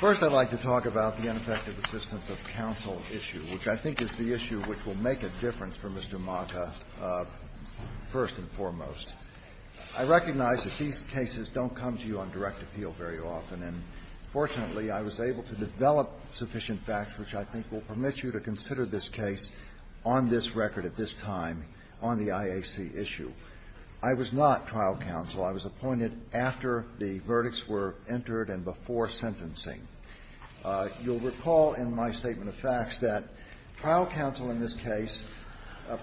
First, I'd like to talk about the ineffective assistance of counsel issue, which I think is the issue which will make a difference for Mr. Maka, first and foremost. I recognize that these cases don't come to you on direct appeal very often, and fortunately, I was able to develop sufficient facts which I think will permit you to consider this case on this record at this time on the IAC issue. I was not trial counsel. I was appointed after the verdicts were entered and before sentencing. You'll recall in my statement of facts that trial counsel in this case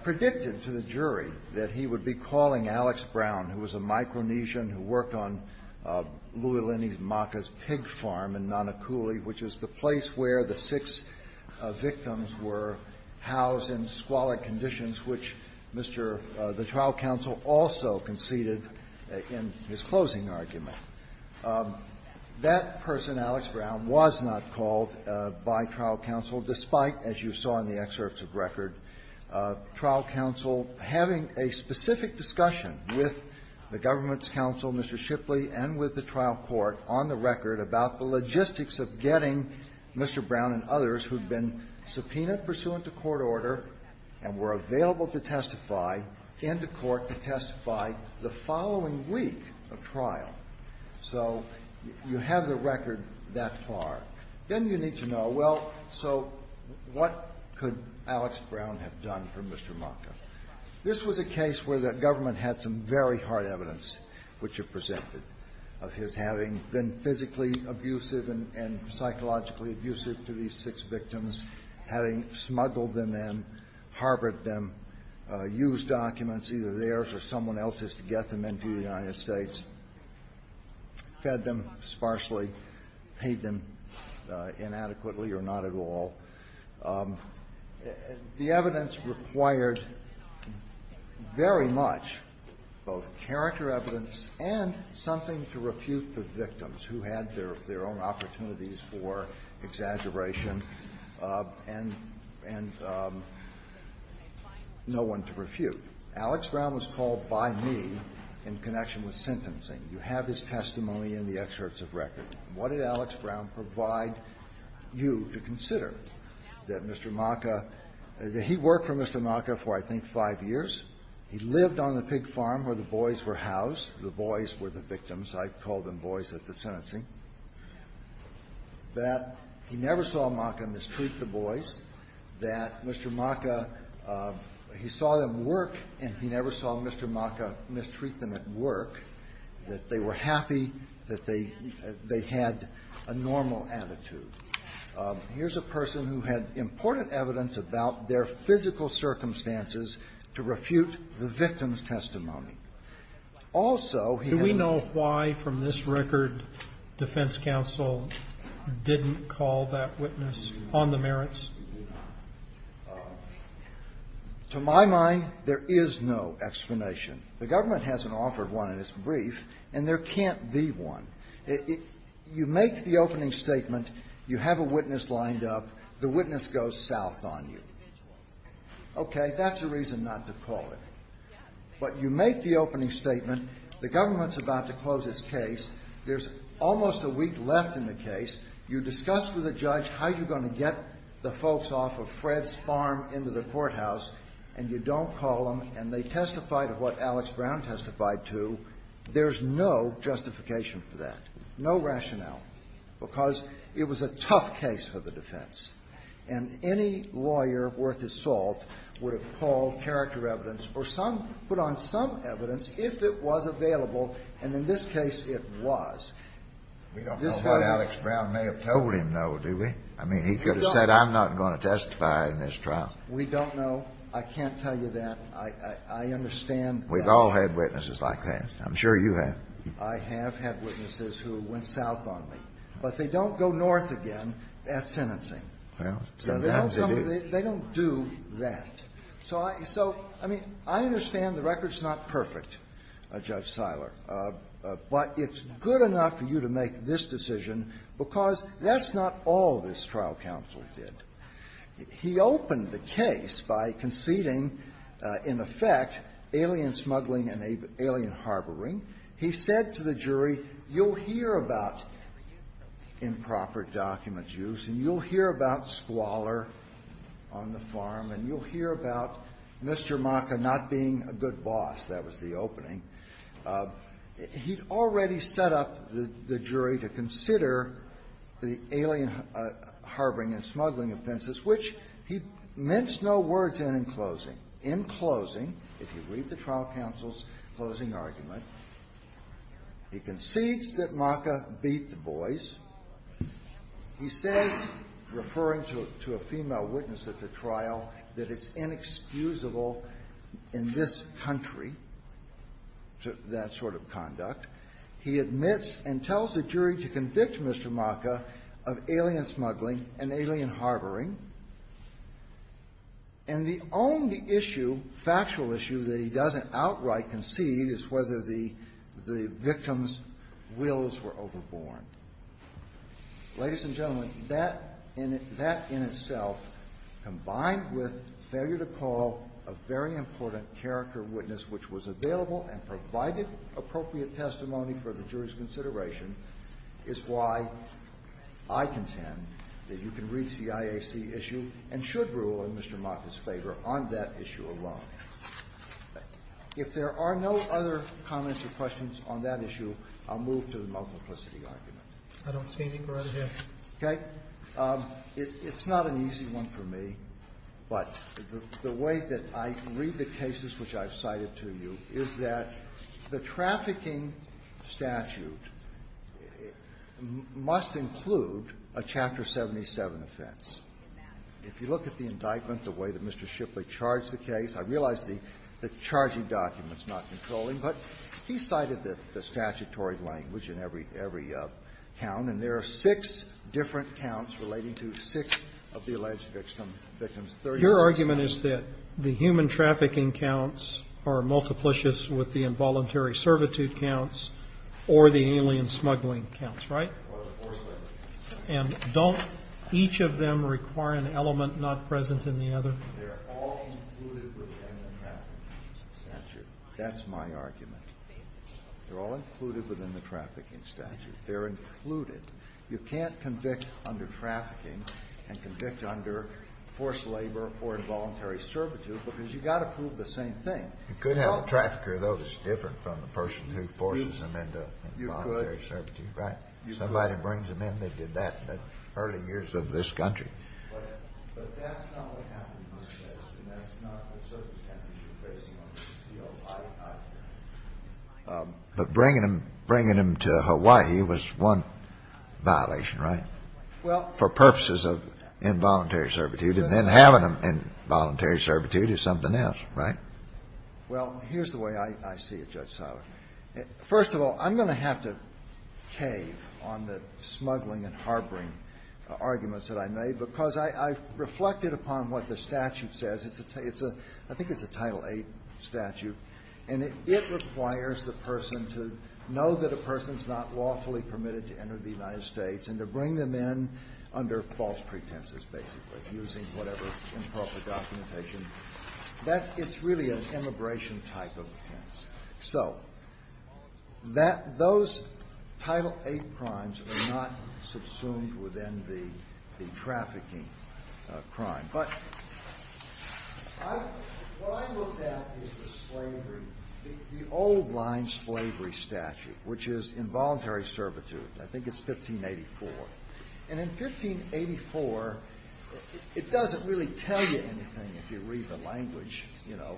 predicted to the jury that he would be calling Alex Brown, who was a Micronesian who worked on Louie Lenny Maka's pig farm in Nanakuli, which is the place where the six victims were housed in squalid conditions, which Mr. — the trial counsel also conceded in his closing argument. That person, Alex Brown, was not called by trial counsel, despite, as you saw in the excerpts of the record, trial counsel having a specific discussion with the government's counsel, Mr. Shipley, and with the trial court on the record about the logistics of getting Mr. Brown and others who had been subpoenaed pursuant to court order and were available to testify into court to testify the following week of trial. So you have the record that far. Then you need to know, well, so what could Alex Brown have done for Mr. Maka? This was a case where the government had some very hard evidence, which you presented, of his having been physically abusive and psychologically abusive to these six victims, having smuggled them in, harbored them, used documents, either theirs or someone else's, to get them into the United States, fed them sparsely, paid them inadequately or not at all. The evidence required very much, both in the character evidence and something to refute the victims who had their own opportunities for exaggeration and no one to refute. Alex Brown was called by me in connection with sentencing. You have his testimony in the excerpts of record. What did Alex Brown provide you to consider? That Mr. Maka, that he worked for Mr. Maka, that the boys were housed, the boys were the victims. I call them boys at the sentencing, that he never saw Maka mistreat the boys, that Mr. Maka, he saw them work and he never saw Mr. Maka mistreat them at work, that they were happy, that they had a normal attitude. Here's a person who had important evidence about their physical circumstances to refute the victim's testimony. Now, I'm not going to go into that. Also, he had no other evidence. Do we know why, from this record, defense counsel didn't call that witness on the merits? To my mind, there is no explanation. The government hasn't offered one in its brief, and there can't be one. You make the opening statement, you have a witness lined up, the witness goes south on you. Okay. That's a reason not to call it. But you make the opening statement, the government's about to close its case, there's almost a week left in the case, you discuss with the judge how you're going to get the folks off of Fred's farm into the courthouse, and you don't call them, and they testify to what Alex Brown testified to. There's no justification for that, no rationale, because it was a tough case for the defense. And any lawyer worth his salt would have called character evidence, or some, put on some evidence, if it was available, and in this case, it was. We don't know what Alex Brown may have told him, though, do we? I mean, he could have said, I'm not going to testify in this trial. We don't know. I can't tell you that. I understand that. We've all had witnesses like that. I'm sure you have. I have had witnesses who went south on me. But they don't go north again at sentencing. Well, sometimes they do. They don't do that. So I mean, I understand the record's not perfect, Judge Siler, but it's good enough for you to make this decision, because that's not all this trial counsel did. He opened the case by conceding, in effect, alien smuggling and alien harboring. He said to the jury, you'll hear about improper documents used, and you'll hear about squalor on the farm, and you'll hear about Mr. Maka not being a good boss. That was the opening. He'd already set up the jury to consider the alien harboring and smuggling offenses, which he meant no words in in closing. If you read the trial counsel's closing argument, he concedes that Maka beat the boys. He says, referring to a female witness at the trial, that it's inexcusable in this country, that sort of conduct. He admits and tells the jury to convict Mr. Maka of alien smuggling and alien harboring. And the only issue, factual issue, that he doesn't outright concede is whether the victim's wills were overborne. Ladies and gentlemen, that in itself, combined with failure to call a very important character witness which was available and provided appropriate testimony for the jury's consideration, is why I contend that you can read C.I.A.C. issue and should rule in Mr. Maka's favor on that issue alone. If there are no other comments or questions on that issue, I'll move to the multiplicity argument. I don't see anything right here. Okay. It's not an easy one for me, but the way that I read the cases which I've cited to you is that the trafficking statute must include a Chapter 77 offense. If you look at the indictment, the way that Mr. Shipley charged the case, I realize the charging document is not controlling, but he cited the statutory language in every count, and there are six different counts relating to six of the alleged victims, victims 36 and up. Your argument is that the human trafficking counts are multiplicious with the involuntary servitude counts or the alien smuggling counts, right? And don't each of them require an element not present in the other? They're all included within the trafficking statute. That's my argument. They're all included within the trafficking statute. They're included. You can't convict under trafficking and convict under forced labor or involuntary servitude because you've got to prove the same thing. You could have a trafficker, though, that's different from the person who forces them into involuntary servitude. Right? Somebody brings them in, they did that in the early years of this country. But that's not what happened in this case, and that's not the circumstances you're facing on this field either. But bringing them to Hawaii was one violation, right, for purposes of involuntary servitude, and then having them in involuntary servitude is something else, right? Well, here's the way I see it, Judge Seiler. First of all, I'm going to have to cave on the smuggling and harboring arguments that I made because I reflected upon what the statute says. It's a – I think it's a Title VIII statute, and it requires the person to know that a person's not lawfully permitted to enter the United States and to bring them in under false pretenses, basically, using whatever improper documentation. That's – it's really an immigration type of offense. So that – those Title VIII crimes are not subsumed within the trafficking crime. But what I looked at is the slavery – the old-line slavery statute, which is involuntary servitude. I think it's 1584. And in 1584, it doesn't really tell you anything if you read the language, you know,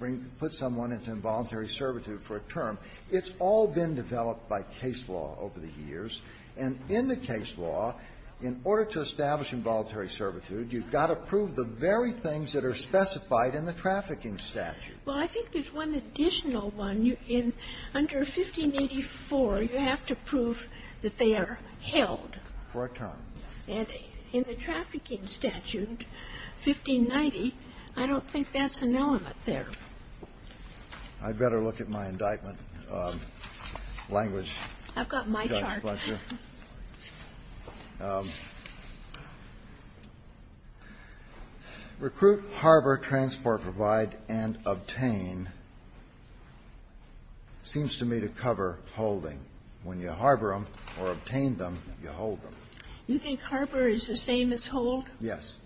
that it's not a voluntary servitude for a term. It's all been developed by case law over the years. And in the case law, in order to establish involuntary servitude, you've got to prove the very things that are specified in the trafficking statute. Well, I think there's one additional one. In – under 1584, you have to prove that they are held. For a term. And in the trafficking statute, 1590, I don't think that's an element there. I'd better look at my indictment language. I've got my chart. Recruit, harbor, transport, provide, and obtain seems to me to cover holding. When you harbor them or obtain them, you hold them. You think harbor is the same as hold? Yes.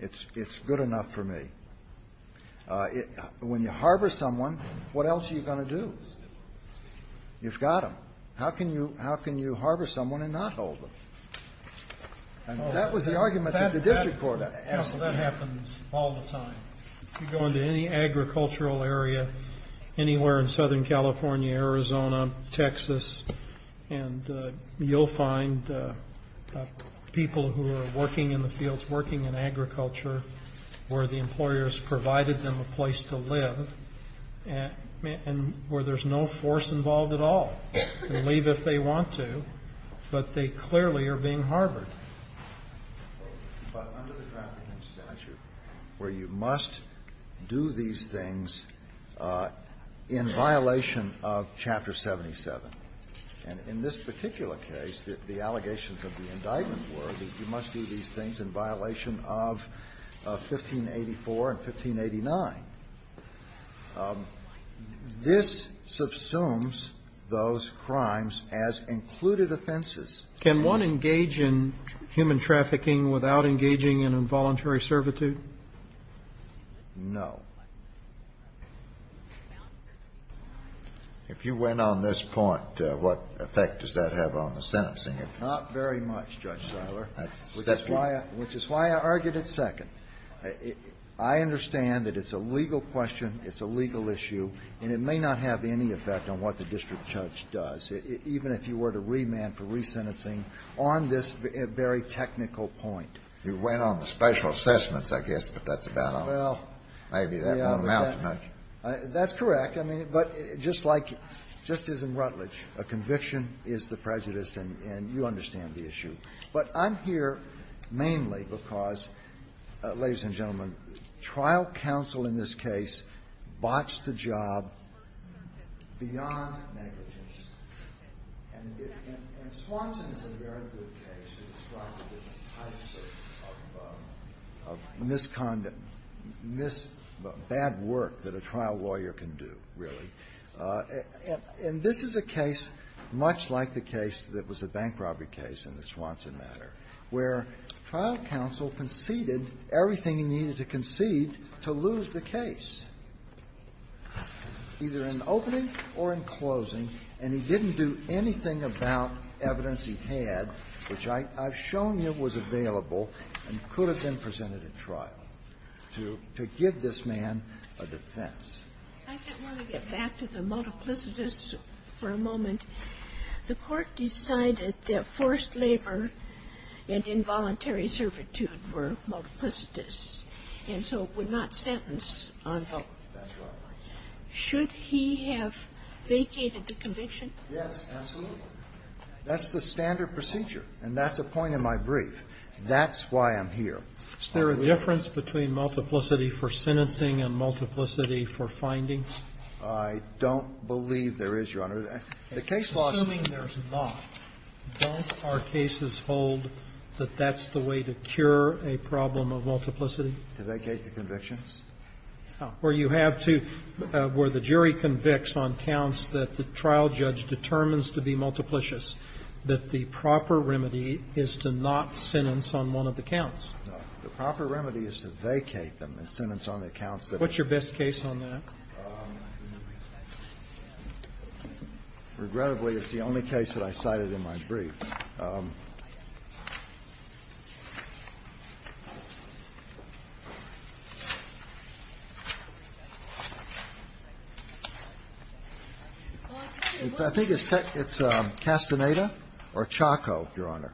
It's good enough for me. When you harbor someone, what else are you going to do? You've got them. How can you harbor someone and not hold them? And that was the argument that the district court asked for. That happens all the time. If you go into any agricultural area anywhere in Southern California, Arizona, Texas, and you'll find people who are working in the fields, working in agriculture where the employer has provided them a place to live and where there's no force involved at all. They can leave if they want to, but they clearly are being harbored. But under the trafficking statute where you must do these things in violation of Chapter 77, and in this particular case, the allegations of the indictment were that you must do these things in violation of 1584 and 1589, this subsumes those crimes as included offenses. Can one engage in human trafficking without engaging in involuntary servitude? No. If you went on this point, what effect does that have on the sentencing? Not very much, Judge Siler. Which is why I argued it second. I understand that it's a legal question, it's a legal issue, and it may not have any effect on what the district judge does, even if you were to remand for resentencing on this very technical point. You went on the special assessments, I guess, but that's about all. Well, yeah, but that's correct. I mean, but just like Justice Rutledge, a conviction is the prejudice, and you understand the issue. But I'm here mainly because, ladies and gentlemen, trial counsel in this case botched the job beyond negligence. And Swanson is a very good case. He's a very good case to describe the types of misconduct, mis-bad work that a trial lawyer can do, really. And this is a case much like the case that was a bank robbery case in the Swanson matter, where trial counsel conceded everything he needed to concede to lose the case, either in opening or in closing, and he didn't do anything about evidence he had, which I've shown you was available and could have been presented at trial to give this man a defense. I just want to get back to the multiplicities for a moment. The Court decided that forced labor and involuntary servitude were multiplicities, and so would not sentence unhelpful. That's right. Should he have vacated the conviction? Yes, absolutely. That's the standard procedure, and that's a point in my brief. That's why I'm here. Is there a difference between multiplicity for sentencing and multiplicity for findings? I don't believe there is, Your Honor. The case law says there's not. Don't our cases hold that that's the way to cure a problem of multiplicity? To vacate the convictions? Where you have to – where the jury convicts on counts that the trial judge determines to be multiplicious, that the proper remedy is to not sentence on one of the counts. No. The proper remedy is to vacate them and sentence on the counts that are not. What's your best case on that? Regrettably, it's the only case that I cited in my brief. I think it's Castaneda or Chaco, Your Honor.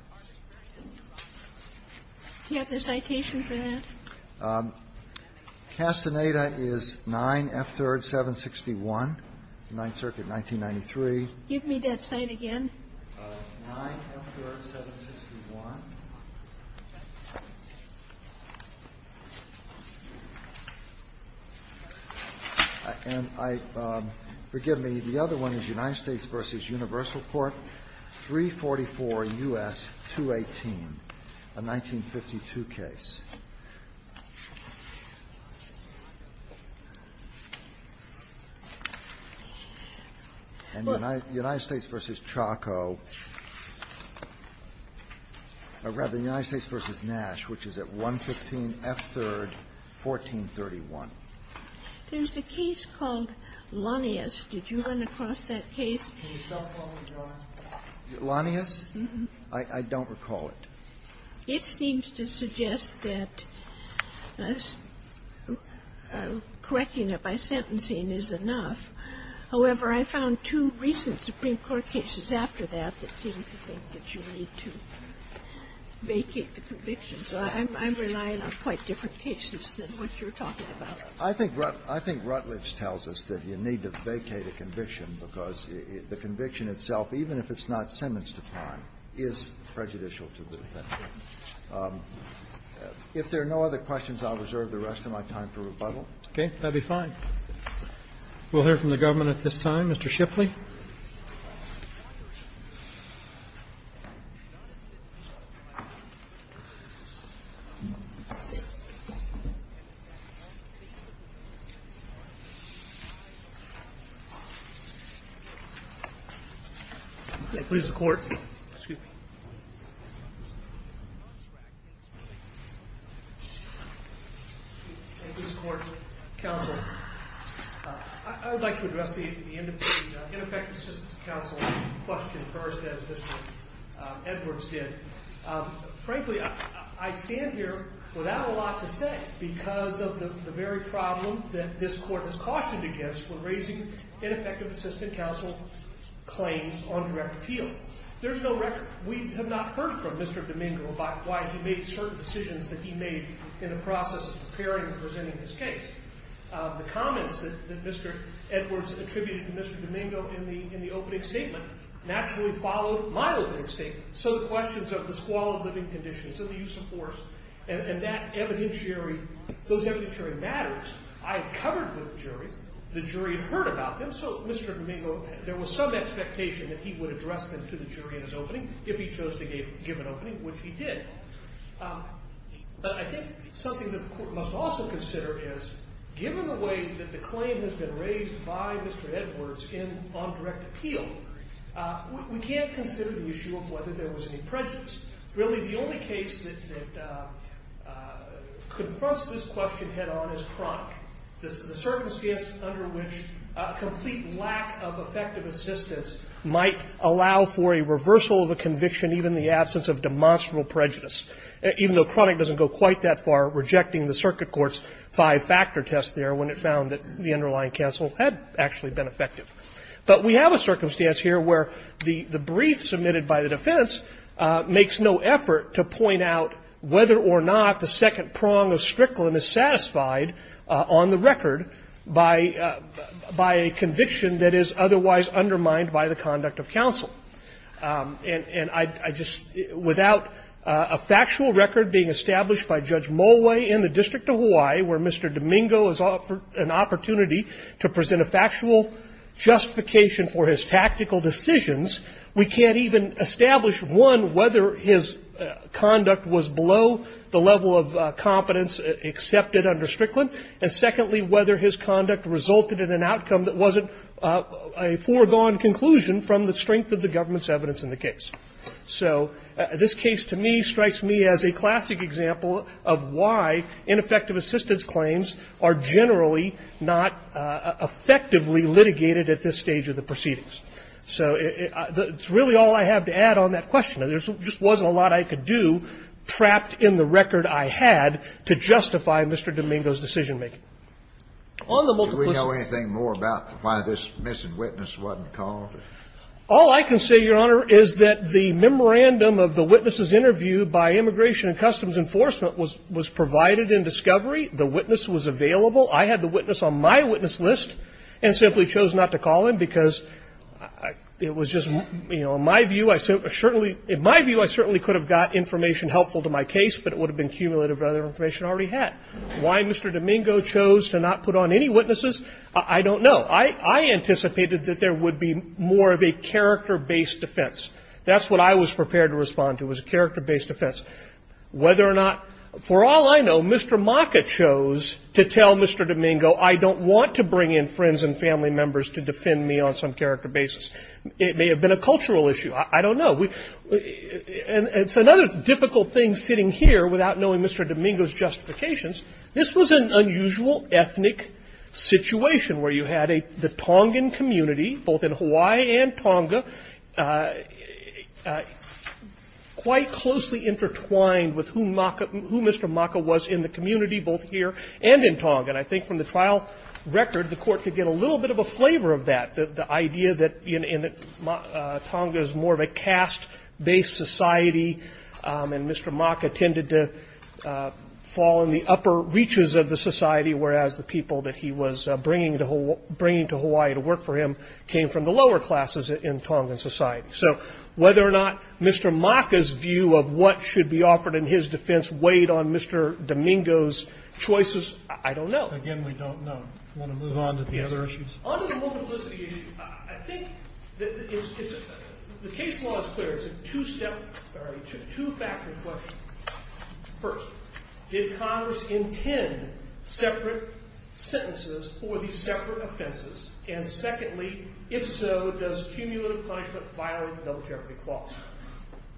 Do you have the citation for that? Castaneda is 9F3rd 761, Ninth Circuit, 1993. Give me that site again. 9F3rd 761. And I – forgive me. The other one is United States v. Universal Court, 344 U.S. 218, a 1952 case. And United States v. Chaco – or rather, United States v. Nash, which is at 115F3rd 1431. There's a case called Lanius. Did you run across that case? Can you spell it for me, Your Honor? Lanius? I don't recall it. It seems to suggest that correcting it by sentencing is enough. However, I found two recent Supreme Court cases after that that seem to think that you need to vacate the conviction. So I'm relying on quite different cases than what you're talking about. I think Rutledge tells us that you need to vacate a conviction because the conviction itself, even if it's not sentence-defined, is prejudicial to the defendant. If there are no other questions, I'll reserve the rest of my time for rebuttal. Okay. That would be fine. We'll hear from the government at this time. Mr. Shipley. Thank you, Mr. Court. Excuse me. Thank you, Mr. Court, counsel. I would like to address the ineffective assistant counsel question first, as Mr. Edwards did. Frankly, I stand here without a lot to say because of the very problem that this Court has cautioned against when raising ineffective assistant counsel claims on direct appeal. There's no record. We have not heard from Mr. Domingo about why he made certain decisions that he made in the process of preparing and presenting his case. The comments that Mr. Edwards attributed to Mr. Domingo in the opening statement naturally followed my opening statement. So the questions of the squalid living conditions and the use of force and that evidentiary, those evidentiary matters, I covered with the jury. The jury had heard about them. So Mr. Domingo, there was some expectation that he would address them to the jury in his opening if he chose to give an opening, which he did. But I think something that the Court must also consider is, given the way that the claim has been raised by Mr. Edwards on direct appeal, we can't consider the issue of whether there was any prejudice. Really, the only case that confronts this question head-on is Cronk, the circumstance under which a complete lack of effective assistance might allow for a reversal of a conviction even in the absence of demonstrable prejudice, even though Cronk doesn't go quite that far, rejecting the circuit court's five-factor test there when it found that the underlying counsel had actually been effective. But we have a circumstance here where the brief submitted by the defense makes no effort to point out whether or not the second prong of Strickland is satisfied on the record by a conviction that is otherwise undermined by the conduct of counsel. And I just – without a factual record being established by Judge Mollway in the District of Hawaii where Mr. Domingo is offered an opportunity to present a factual justification for his tactical decisions, we can't even establish, one, whether his conduct was below the level of competence accepted under Strickland, and secondly, whether his conduct resulted in an outcome that wasn't a foregone conclusion from the strength of the government's evidence in the case. So this case to me strikes me as a classic example of why ineffective assistance claims are generally not effectively litigated at this stage of the proceedings. So it's really all I have to add on that question. There just wasn't a lot I could do, trapped in the record I had, to justify Mr. Domingo's decision-making. On the multiple- Kennedy, do we know anything more about why this missing witness wasn't called? All I can say, Your Honor, is that the memorandum of the witnesses interviewed by Immigration and Customs Enforcement was provided in discovery. The witness was available. I had the witness on my witness list and simply chose not to call him because it was just, you know, in my view, I certainly – in my view, I certainly could have got information helpful to my case, but it would have been cumulative of other information I already had. Why Mr. Domingo chose to not put on any witnesses, I don't know. I anticipated that there would be more of a character-based defense. That's what I was prepared to respond to, was a character-based defense. Whether or not – for all I know, Mr. Maka chose to tell Mr. Domingo, I don't want to bring in friends and family members to defend me on some character basis. It may have been a cultural issue. I don't know. And it's another difficult thing sitting here without knowing Mr. Domingo's justifications. This was an unusual ethnic situation where you had the Tongan community, both in Hawaii and Tonga, quite closely intertwined with who Maka – who Mr. Maka was in the community, both here and in Tonga. And I think from the trial record, the Court could get a little bit of a flavor of that. The idea that Tonga is more of a caste-based society, and Mr. Maka tended to fall in the upper reaches of the society, whereas the people that he was bringing to Hawaii to work for him came from the lower classes in Tongan society. So whether or not Mr. Maka's view of what should be offered in his defense weighed on Mr. Domingo's choices, I don't know. Again, we don't know. Want to move on to the other issues? On the moral publicity issue, I think the case law is clear. It's a two-factor question. First, did Congress intend separate sentences for these separate offenses? And secondly, if so, does cumulative punishment violate the double jeopardy clause?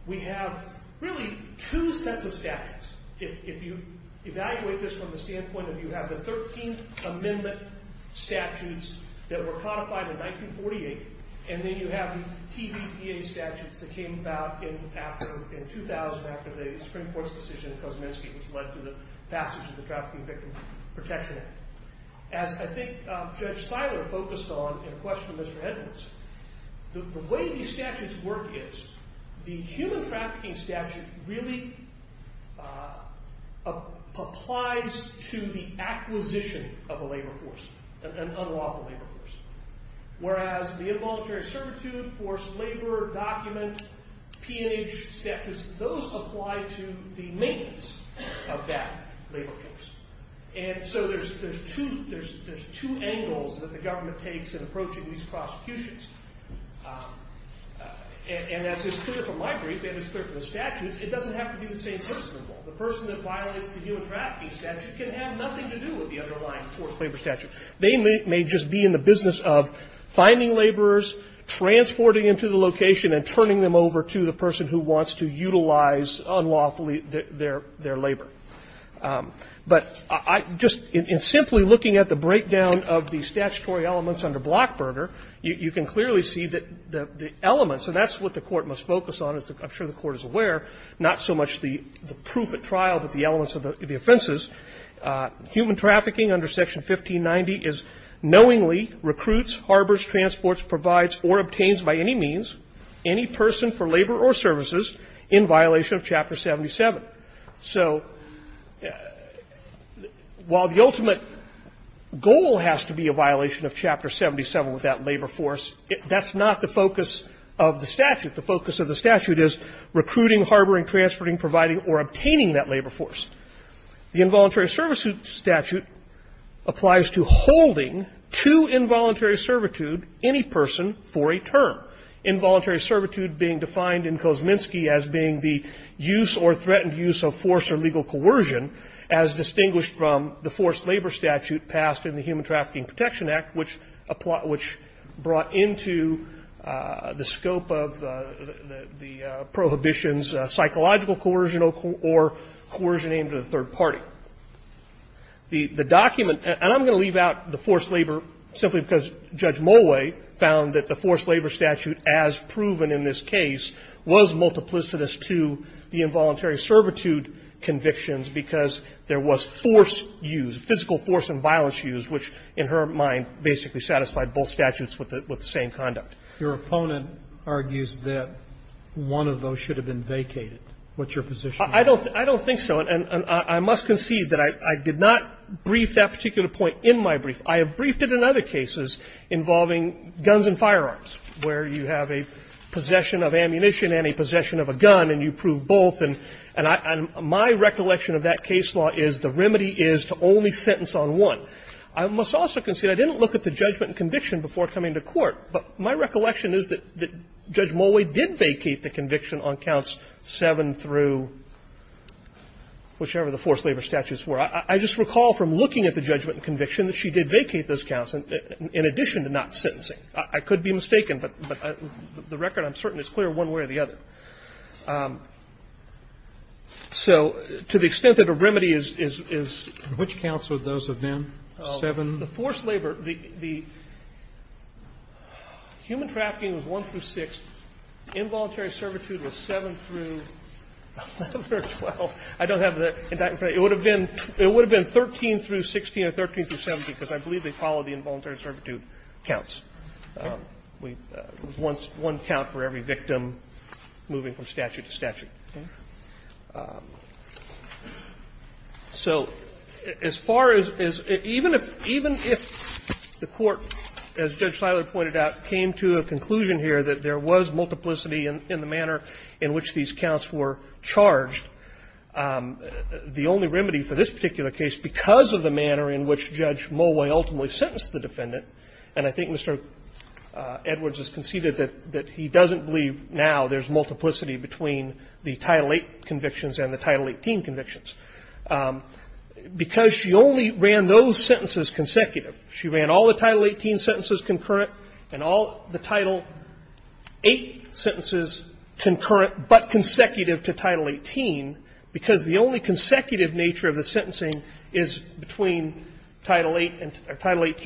We have really two sets of statutes. If you evaluate this from the standpoint of you have the 13th Amendment statutes that were codified in 1948, and then you have the TVPA statutes that came about in 2000 after the Supreme Court's decision in Kosminski, which led to the passage of the Trafficking Victims Protection Act. As I think Judge Seiler focused on in question of Mr. Edwards, the way these statutes work is the human trafficking statute really applies to the acquisition of a labor force, an unlawful labor force. Whereas the involuntary servitude, forced labor, document, P&H statutes, those apply to the maintenance of that labor force. And so there's two angles that the government takes in approaching these prosecutions. And as is clear from my brief, and it's clear from the statutes, it doesn't have to be the same person involved. The person that violates the human trafficking statute can have nothing to do with the underlying forced labor statute. They may just be in the business of finding laborers, transporting them to the location, and turning them over to the person who wants to utilize unlawfully their labor. But I just – in simply looking at the breakdown of the statutory elements under Blockburter, you can clearly see that the elements – and that's what the Court must focus on, as I'm sure the Court is aware, not so much the proof at trial, but the elements of the offenses. Human trafficking under Section 1590 is knowingly recruits, harbors, transports, provides, or obtains by any means any person for labor or services in violation of Chapter 77. So while the ultimate goal has to be a violation of Chapter 77 with that labor force, that's not the focus of the statute. The focus of the statute is recruiting, harboring, transporting, providing, or obtaining that labor force. The involuntary service statute applies to holding to involuntary servitude any person for a term. Involuntary servitude being defined in Kosminski as being the use or threatened use of force or legal coercion, as distinguished from the forced labor statute passed in the Human Trafficking Protection Act, which brought into the scope of the prohibition's psychological coercion or coercion aimed at a third party. The document – and I'm going to leave out the forced labor simply because Judge Mulway found that the forced labor statute, as proven in this case, was multiplicitous to the involuntary servitude convictions because there was force use, physical force and violence use, which in her mind basically satisfied both statutes with the same conduct. Your opponent argues that one of those should have been vacated. What's your position on that? I don't think so. And I must concede that I did not brief that particular point in my brief. I have briefed it in other cases involving guns and firearms, where you have a possession of ammunition and a possession of a gun and you prove both. And my recollection of that case law is the remedy is to only sentence on one. I must also concede I didn't look at the judgment and conviction before coming to court, but my recollection is that Judge Mulway did vacate the conviction on counts 7 through whichever the forced labor statutes were. I just recall from looking at the judgment and conviction that she did vacate those counts in addition to not sentencing. I could be mistaken, but the record, I'm certain, is clear one way or the other. So to the extent that a remedy is to which counts would those have been, 7? The forced labor, the human trafficking was 1 through 6. Involuntary servitude was 7 through 11 or 12. I don't have the exact number. It would have been 13 through 16 or 13 through 17, because I believe they followed the involuntary servitude counts. We have one count for every victim moving from statute to statute. So as far as even if the Court, as Judge Siler pointed out, came to a conclusion here that there was multiplicity in the manner in which these counts were charged, the only remedy for this particular case because of the manner in which Judge Mulway ultimately sentenced the defendant, and I think Mr. Edwards has conceded that he doesn't believe now there's multiplicity between the Title VIII convictions and the Title XVIII convictions, because she only ran those sentences consecutive. She ran all the Title VIII sentences concurrent and all the Title VIII sentences concurrent but consecutive to Title XVIII because the only consecutive nature of the Title XVIII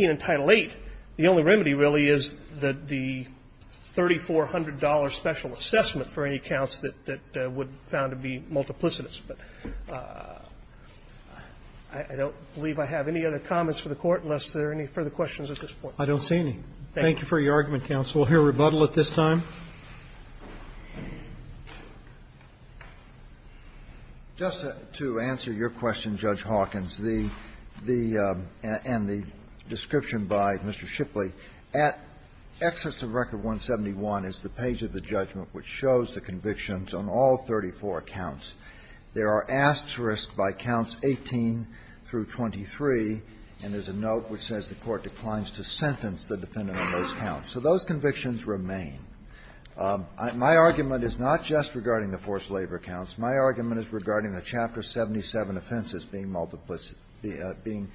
and Title VIII, the only remedy really is the $3,400 special assessment for any counts that would be found to be multiplicitous. But I don't believe I have any other comments for the Court unless there are any further questions at this point. I don't see any. Thank you for your argument, counsel. We'll hear rebuttal at this time. Just to answer your question, Judge Hawkins, the and the question that I'm going to answer is the description by Mr. Shipley, at excess of Record 171 is the page of the judgment which shows the convictions on all 34 counts. There are asterisks by counts 18 through 23, and there's a note which says the Court declines to sentence the defendant on those counts. So those convictions remain. My argument is not just regarding the forced labor counts. My argument is regarding the Chapter 77 offenses being multiplicity and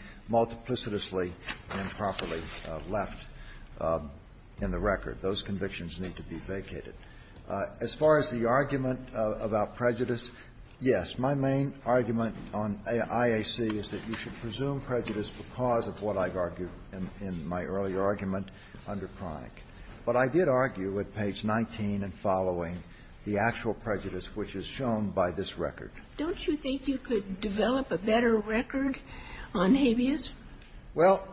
properly left in the record. Those convictions need to be vacated. As far as the argument about prejudice, yes, my main argument on IAC is that you should presume prejudice because of what I've argued in my earlier argument under Cronic. But I did argue at page 19 and following the actual prejudice which is shown by this record. Don't you think you could develop a better record on habeas? Well,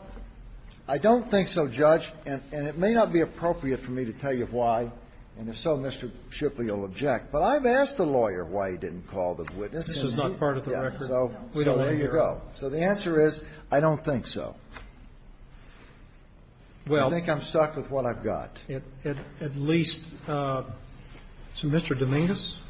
I don't think so, Judge, and it may not be appropriate for me to tell you why. And if so, Mr. Shipley will object. But I've asked the lawyer why he didn't call the witness. This is not part of the record. So there you go. So the answer is I don't think so. Well, I think I'm stuck with what I've got. At least Mr. Domingos,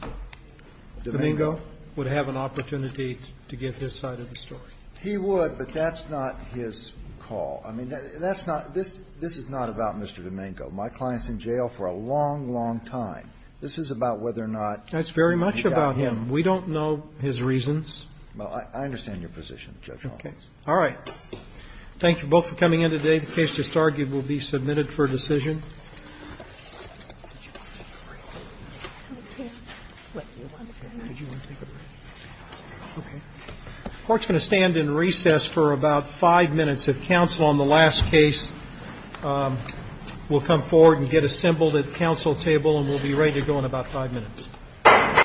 Domingo, would have an opportunity to get his side of the story. He would, but that's not his call. I mean, that's not this is not about Mr. Domingo. My client's in jail for a long, long time. This is about whether or not he got him. That's very much about him. We don't know his reasons. Well, I understand your position, Judge Holmes. Okay. All right. Thank you both for coming in today. The case just argued will be submitted for decision. The court's going to stand in recess for about five minutes of counsel on the last case. We'll come forward and get assembled at the counsel table, and we'll be ready to go in about five minutes.